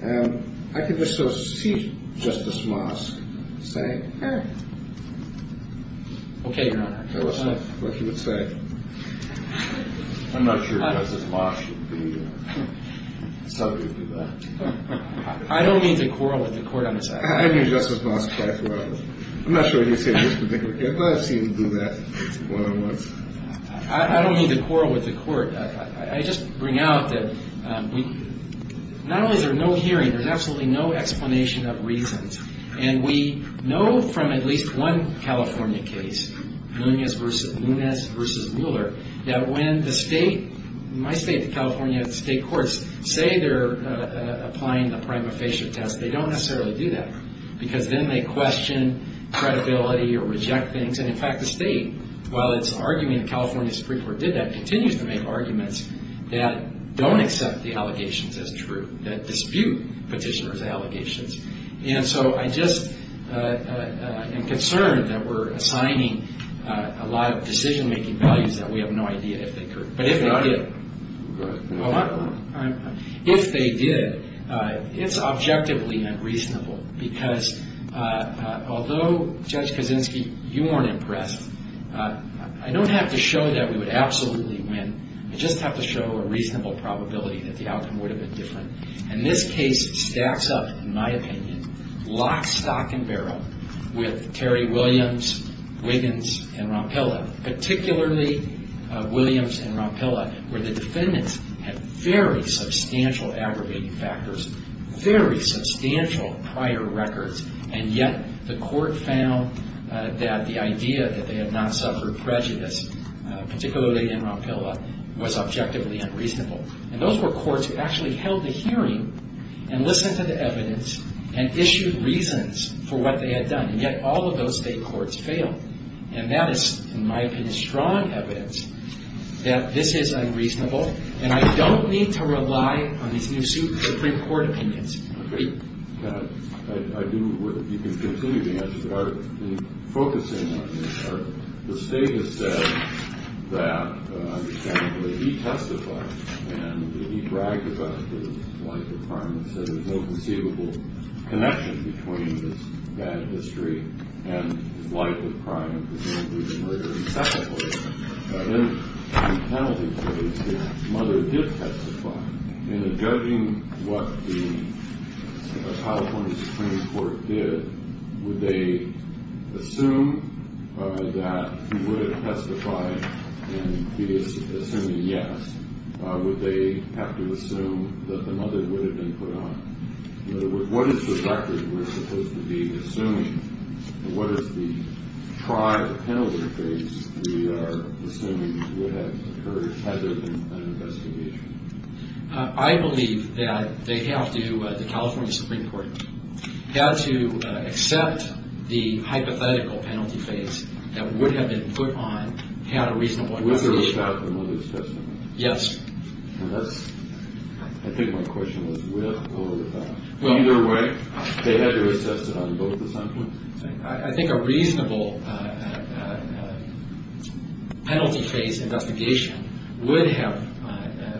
And I could just so see Justice Mosk saying, okay. Okay, Your Honor. Tell us what he would say. I'm not sure Justice Mosk should be subject to that. I don't mean to quarrel with the court on this. I mean Justice Mosk. I'm not sure what he would say. I've seen him do that more than once. I don't mean to quarrel with the court. I just bring out that not only is there no hearing, there's absolutely no explanation of reasons, and we know from at least one California case, Nunez v. Mueller, that when the state, my state of California, the state courts say they're applying the prima facie test, they don't necessarily do that because then they question credibility or reject things. And, in fact, the state, while it's arguing the California Supreme Court did that, continues to make arguments that don't accept the allegations as true, that dispute petitioner's allegations. And so I just am concerned that we're assigning a lot of decision-making values that we have no idea if they occurred. But if they did. Go ahead. If they did, it's objectively unreasonable because although, Judge Kaczynski, you weren't impressed, I don't have to show that we would absolutely win. I just have to show a reasonable probability that the outcome would have been different. And this case stacks up, in my opinion, lock, stock, and barrel with Terry Williams, Wiggins, and Rampilla, particularly Williams and Rampilla, where the defendants had very substantial aggravating factors, very substantial prior records, and yet the court found that the idea that they had not suffered prejudice, particularly in Rampilla, was objectively unreasonable. And those were courts who actually held the hearing and listened to the evidence and issued reasons for what they had done. And yet all of those state courts failed. And that is, in my opinion, strong evidence that this is unreasonable, and I don't need to rely on these new Supreme Court opinions. Okay. You can continue to answer, but in focusing on this, the State has said that, understandably, he testified and he bragged about his life of crime and said there was no conceivable connection between his bad history and his life of crime, particularly the murder of his second wife. In the penalty case, his mother did testify. And in judging what the California Supreme Court did, would they assume that he would have testified, and he is assuming yes, would they have to assume that the mother would have been put on? In other words, what is the factors we're supposed to be assuming, and what is the trial penalty case we are assuming would have occurred had there been an investigation? I believe that they have to, the California Supreme Court, have to accept the hypothetical penalty case that would have been put on, had a reasonable investigation. Was there a fact that the mother was testifying? Yes. And that's, I think my question was, with or without? Either way. They had to have assessed it on both the side points? I think a reasonable penalty case investigation would have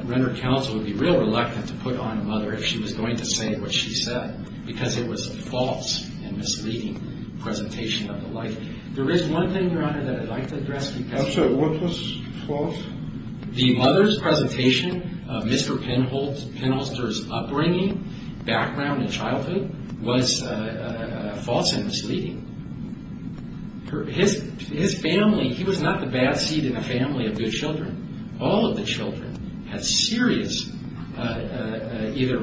rendered counsel would be real reluctant to put on a mother if she was going to say what she said, because it was a false and misleading presentation of the life. There is one thing, Your Honor, that I'd like to address. Counsel, what was false? The mother's presentation of Mr. Penholster's upbringing, background, and childhood was false and misleading. His family, he was not the bad seed in a family of good children. All of the children had serious either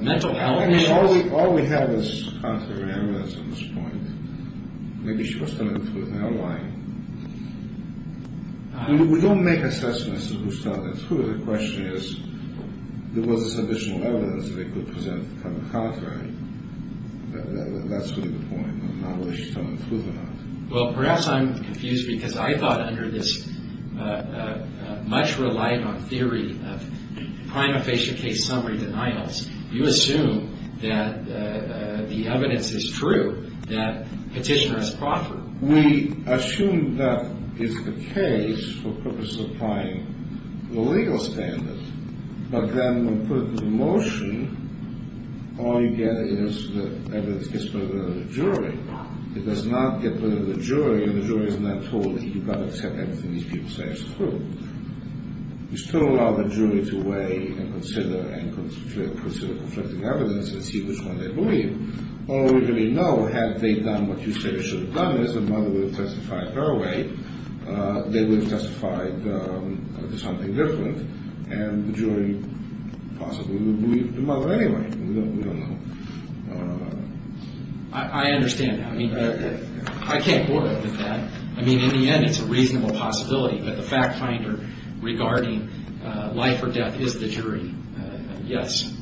mental ailments. All we have is counter-analysis at this point. Maybe she was telling the truth. I don't know why. We don't make assessments of who's telling the truth. The question is, there was this additional evidence that they could present from the contrary. That's really the point, whether she's telling the truth or not. Well, perhaps I'm confused, because I thought under this much-reliant-on-theory-of-prime-of-patient-case-summary-denials, you assume that the evidence is true, that Petitioner has proffered. We assume that it's the case for purpose of applying the legal standard, but then when put into motion, all you get is that evidence gets put in the jury. It does not get put in the jury, and the jury is not told that you've got to accept everything these people say as the truth. You still allow the jury to weigh and consider and consider conflicting evidence and see which one they believe. All we really know, had they done what you say they should have done, is the mother would have testified her way. They would have testified something different, and the jury possibly would believe the mother anyway. We don't know. I understand. I mean, I can't work with that. I mean, in the end, it's a reasonable possibility that the fact-finder regarding life or death is the jury. Yes.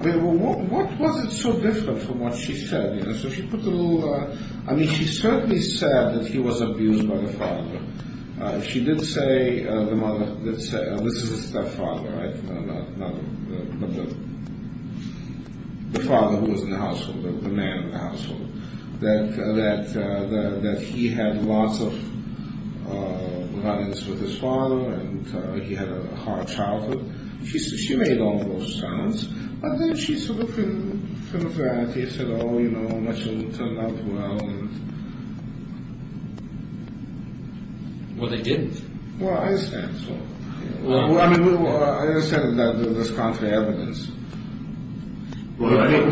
Well, what was it so different from what she said? You know, so she put a little, I mean, she certainly said that he was abused by the father. She did say, the mother did say, and this is the stepfather, right, not the father who was in the household, the man in the household, that he had lots of violence with his father, and he had a hard childhood. She made all of those comments. And then she sort of, in kind of variety, said, oh, you know, it turned out well. Well, they didn't. Well, I understand, so. Well, I mean, I understand that there's conflicting evidence. Well, I have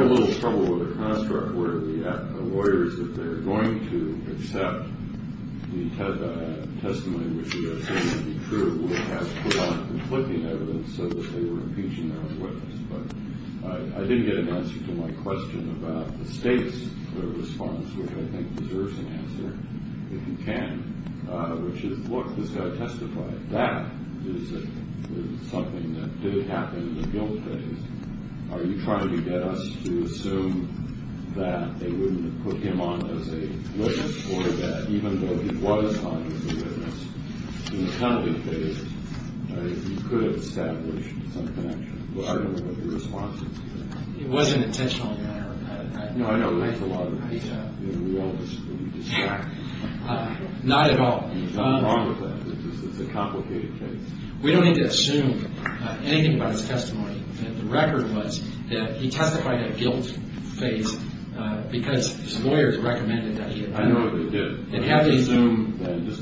a little trouble with the construct where the lawyers, if they're going to accept the testimony which they are saying to be true, would have to put on conflicting evidence so that they were impeaching their own witness. But I didn't get an answer to my question about the state's response, which I think deserves an answer, if you can, which is, look, this guy testified. That is something that did happen in the guilt phase. Are you trying to get us to assume that they wouldn't have put him on as a witness or that even though he was on as a witness, in the penalty phase, he could have established some connection? I don't know what your response is to that. It wasn't intentional in any way. No, I know it makes a lot of sense in the real world. Sure. Not at all. There's nothing wrong with that. It's a complicated case. We don't need to assume anything about his testimony. The record was that he testified at guilt phase because his lawyers recommended that he had done it. I know they did. And have they assumed that? Just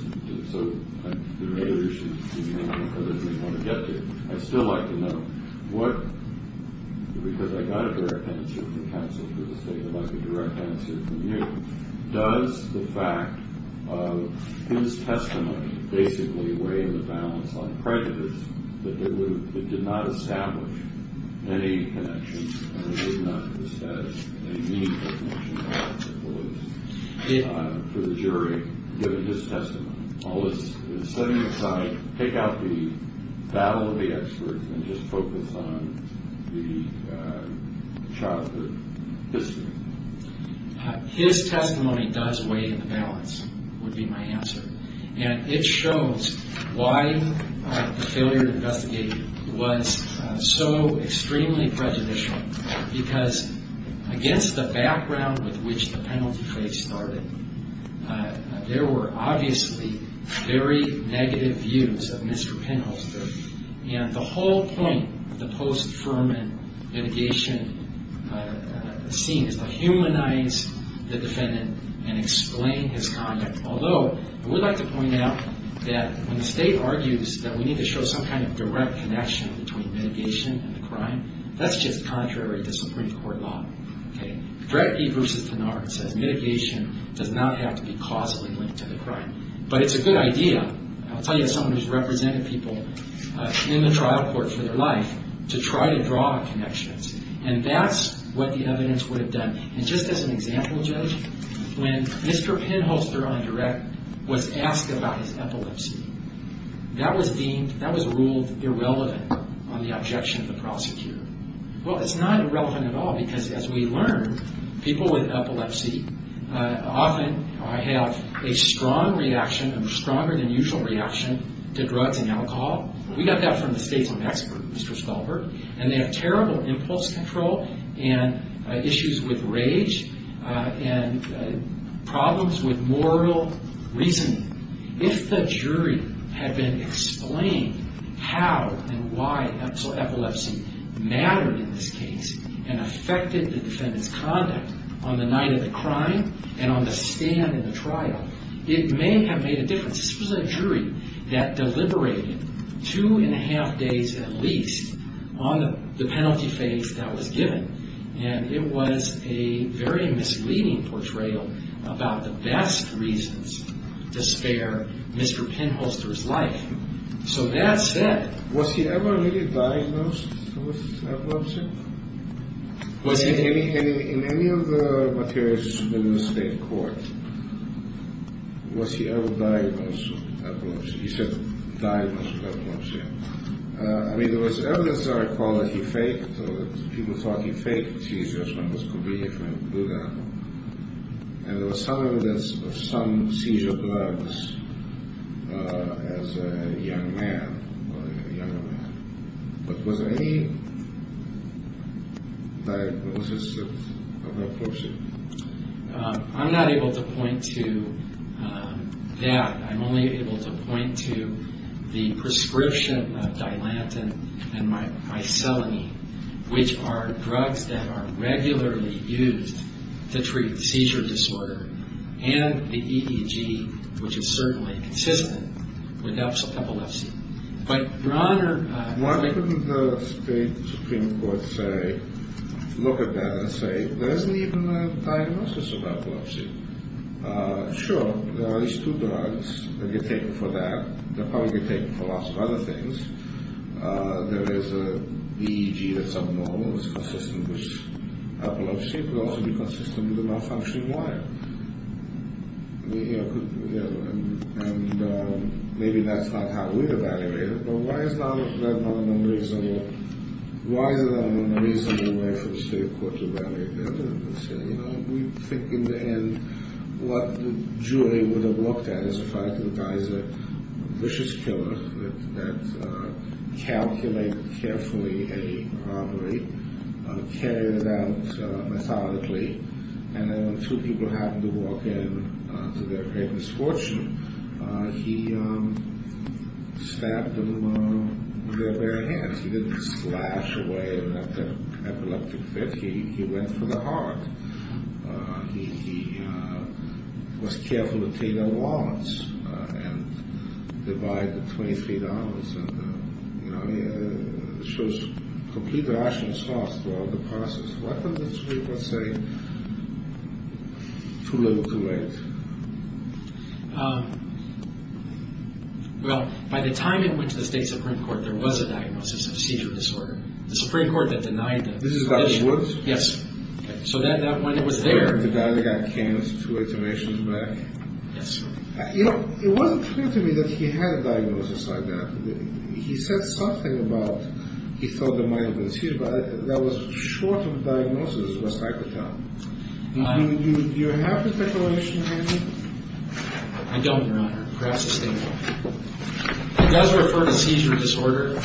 so the regulators should be able to get to it. I'd still like to know what, because I got a direct answer from counsel for the state. I'd like a direct answer from you. Does the fact of his testimony basically weigh in the balance on prejudice that it did not establish any connections and it did not establish any meaningful connections for the jury given his testimony? All this setting aside, pick out the battle of the experts and just focus on the childhood history. His testimony does weigh in the balance, would be my answer. And it shows why the failure to investigate was so extremely prejudicial, because against the background with which the penalty phase started, there were obviously very negative views of Mr. Penholster. And the whole point of the post-Fuhrman litigation scene is to humanize the defendant and explain his conduct. Although, I would like to point out that when the state argues that we need to show some kind of direct connection between mitigation and the crime, that's just contrary to Supreme Court law. Dredge v. Pinard says mitigation does not have to be causally linked to the crime. But it's a good idea, I'll tell you as someone who's represented people in the trial court for their life, to try to draw connections. And that's what the evidence would have done. And just as an example, Judge, when Mr. Penholster on direct was asked about his epilepsy, that was deemed, that was ruled irrelevant on the objection of the prosecutor. Well, it's not irrelevant at all, because as we learned, people with epilepsy often have a strong reaction, a stronger than usual reaction to drugs and alcohol. We got that from the state's own expert, Mr. Stolberg. And they have terrible impulse control and issues with rage and problems with moral reasoning. If the jury had been explained how and why epilepsy mattered in this case and affected the defendant's conduct on the night of the crime and on the stand in the trial, it may have made a difference. This was a jury that deliberated two and a half days at least on the penalty phase that was given. And it was a very misleading portrayal about the best reasons to spare Mr. Penholster's life. So that said... Was he ever really diagnosed with epilepsy? Was he? In any of the materials submitted in the state court, was he ever diagnosed with epilepsy? He said, diagnosed with epilepsy. I mean, there was evidence of alcohol that he faked. People thought he faked seizures when he was coming here from Buda. And there was some evidence of some seizure drugs as a young man or a younger man. But was there any diagnosis of epilepsy? I'm not able to point to that. I'm only able to point to the prescription of dilantin and mycelinine, which are drugs that are regularly used to treat seizure disorder, and the EEG, which is certainly consistent with epilepsy. But, Your Honor... Why couldn't the state supreme court say, look at that and say, there isn't even a diagnosis of epilepsy? Sure, there are at least two drugs that get taken for that. They'll probably get taken for lots of other things. There is an EEG that's abnormal. It's consistent with epilepsy. It could also be consistent with a malfunctioning wire. And maybe that's not how we'd evaluate it. But why is there not a reasonable way for the state court to evaluate that? We think in the end what the jury would have looked at is the fact that the guy is a vicious killer that calculated carefully a robbery, carried it out methodically, and then when two people happened to walk in to their great misfortune, he stabbed them with their bare hands. He didn't slash away and let the epileptic fit. He went for the heart. He was careful to take out warrants and divide the $23. It shows complete rational thought throughout the process. Why couldn't the state court say, too little, too late? Well, by the time it went to the state supreme court, there was a diagnosis of seizure disorder. The supreme court that denied that. This is Dr. Schwartz? Yes. So when it was there. The guy that got cancer two itinerations back? Yes. It wasn't clear to me that he had a diagnosis like that. He said something about he thought there might have been a seizure, but that was short of a diagnosis of a psychotic. Do you have the declaration handy? I don't, Your Honor. Perhaps the state will. It does refer to seizure disorder,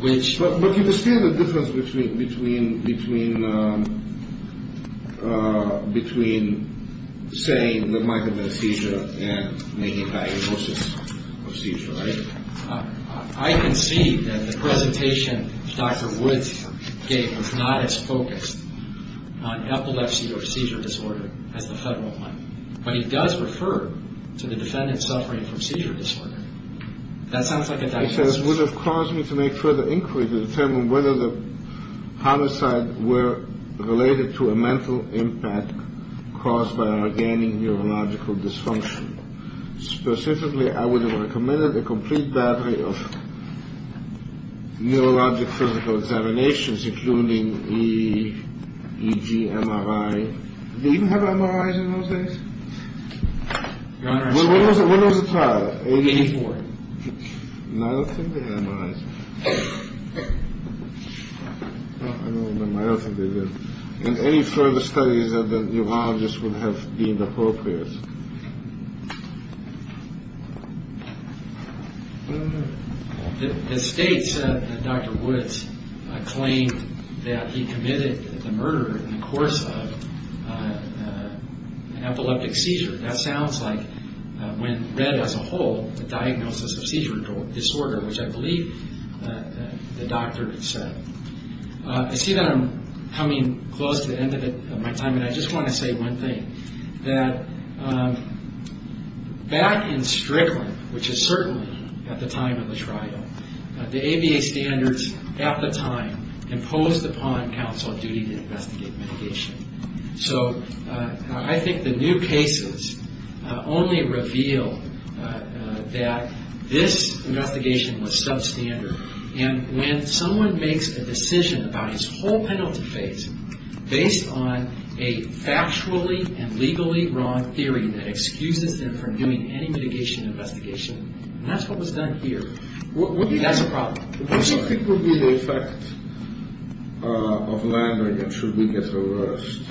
which. But you can see the difference between saying there might have been a seizure and making a diagnosis of seizure, right? I can see that the presentation Dr. Woods gave was not as focused on epilepsy or seizure disorder as the federal one. But it does refer to the defendant suffering from seizure disorder. That sounds like a diagnosis. He says, would have caused me to make further inquiry to determine whether the homicide were related to a mental impact caused by an organic neurological dysfunction. Specifically, I would have recommended a complete battery of neurologic physical examinations, including EG, MRI. Did they even have MRIs in those days? Your Honor. When was the trial? 1984. And I don't think they had MRIs. I don't remember. I don't think they did. And any further studies of the neurologist would have deemed appropriate. The state said that Dr. Woods claimed that he committed the murder in the course of an epileptic seizure. That sounds like, when read as a whole, a diagnosis of seizure disorder, which I believe the doctor said. I see that I'm coming close to the end of my time, and I just want to say one thing. That back in Strickland, which is certainly at the time of the trial, the ABA standards at the time imposed upon counsel a duty to investigate mitigation. So I think the new cases only reveal that this investigation was substandard. And when someone makes a decision about his whole penalty phase based on a factually and legally wrong theory that excuses them from doing any mitigation investigation, and that's what was done here, that's a problem. What do you think would be the effect of Landrigan should we get arrest?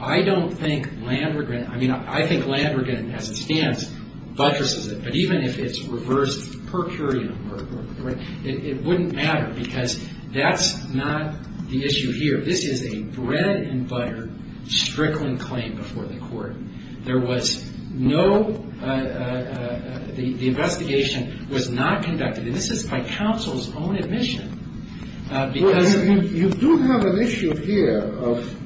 I don't think Landrigan, I mean, I think Landrigan as it stands buttresses it. But even if it's reversed per curiam, it wouldn't matter, because that's not the issue here. This is a bread-and-butter Strickland claim before the court. There was no — the investigation was not conducted, and this is by counsel's own admission, because —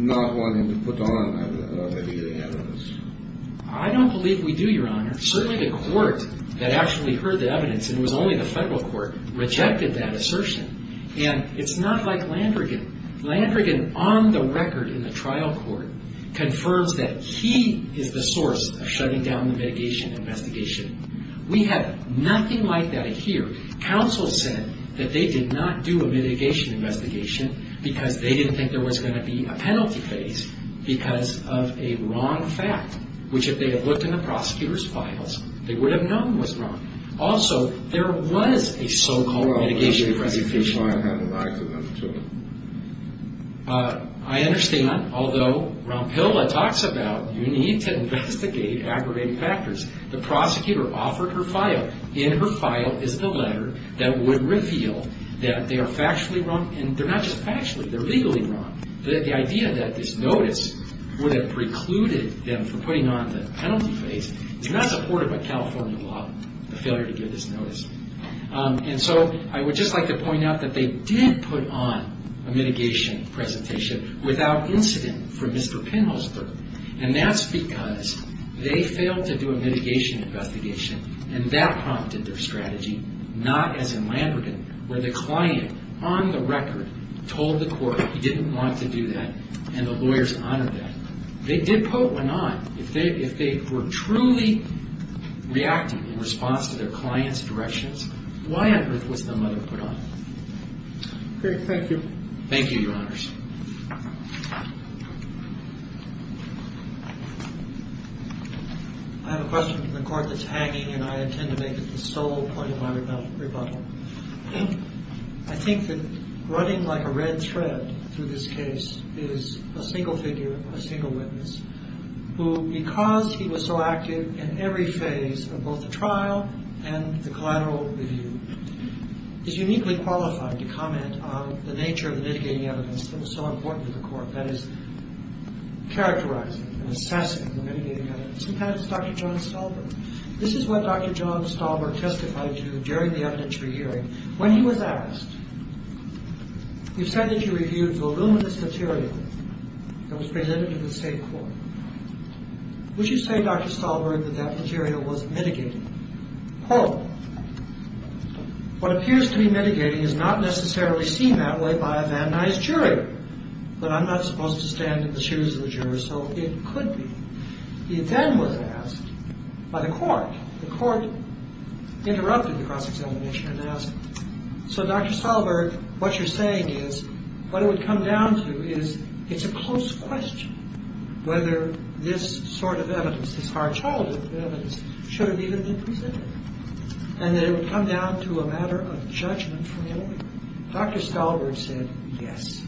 I don't believe we do, Your Honor. Certainly the court that actually heard the evidence, and it was only the federal court, rejected that assertion. And it's not like Landrigan. Landrigan on the record in the trial court confirms that he is the source of shutting down the mitigation investigation. We have nothing like that here. Counsel said that they did not do a mitigation investigation because they didn't think there was going to be a penalty phase because of a wrong fact, which if they had looked in the prosecutor's files, they would have known was wrong. Also, there was a so-called mitigation presentation. Well, I'm not saying that the client had an argument to it. I understand, although Rompilla talks about you need to investigate aggravating factors. The prosecutor offered her file. In her file is the letter that would reveal that they are factually wrong. And they're not just factually, they're legally wrong. The idea that this notice would have precluded them from putting on the penalty phase is not supported by California law, the failure to give this notice. And so I would just like to point out that they did put on a mitigation presentation without incident for Mr. Penholzberg. And that's because they failed to do a mitigation investigation, and that prompted their strategy, not as in Landrigan, where the client, on the record, told the court he didn't want to do that, and the lawyers honored that. They did put one on. If they were truly reacting in response to their client's directions, why on earth was the letter put on? MR. PENHOLZBERG. Okay. Thank you. MR. BOUTROUS. Thank you, Your Honors. I have a question from the court that's hanging, and I intend to make it the sole point of my rebuttal. I think that running like a red thread through this case is a single figure, a single witness, who, because he was so active in every phase of both the trial and the collateral review, is uniquely qualified to comment on the nature of the mitigating evidence that was so important to the court, that is, characterizing and assessing the mitigating evidence. In fact, it's Dr. John Stahlberg. This is what Dr. John Stahlberg justified to during the evidentiary hearing. When he was asked, you said that you reviewed voluminous material that was presented to the State Court. Would you say, Dr. Stahlberg, that that material was mitigated? Well, what appears to be mitigating is not necessarily seen that way by a vandalized jury, but I'm not supposed to stand in the shoes of the jurors, so it could be. He then was asked by the court, the court interrupted the cross-examination and asked, so, Dr. Stahlberg, what you're saying is, what it would come down to is it's a close question whether this sort of evidence, this hard childhood evidence, should have even been presented, and that it would come down to a matter of judgment from the lawyer. Dr. Stahlberg said, yes.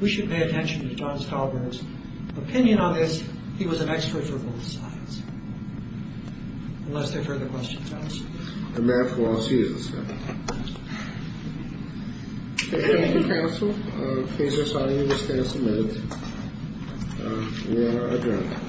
We should pay attention to John Stahlberg's opinion on this. He was an expert for both sides. Unless there are further questions. Thank you, counsel. And may it for all seasons. Thank you, counsel. The case is signed and will stand submitted. We are adjourned.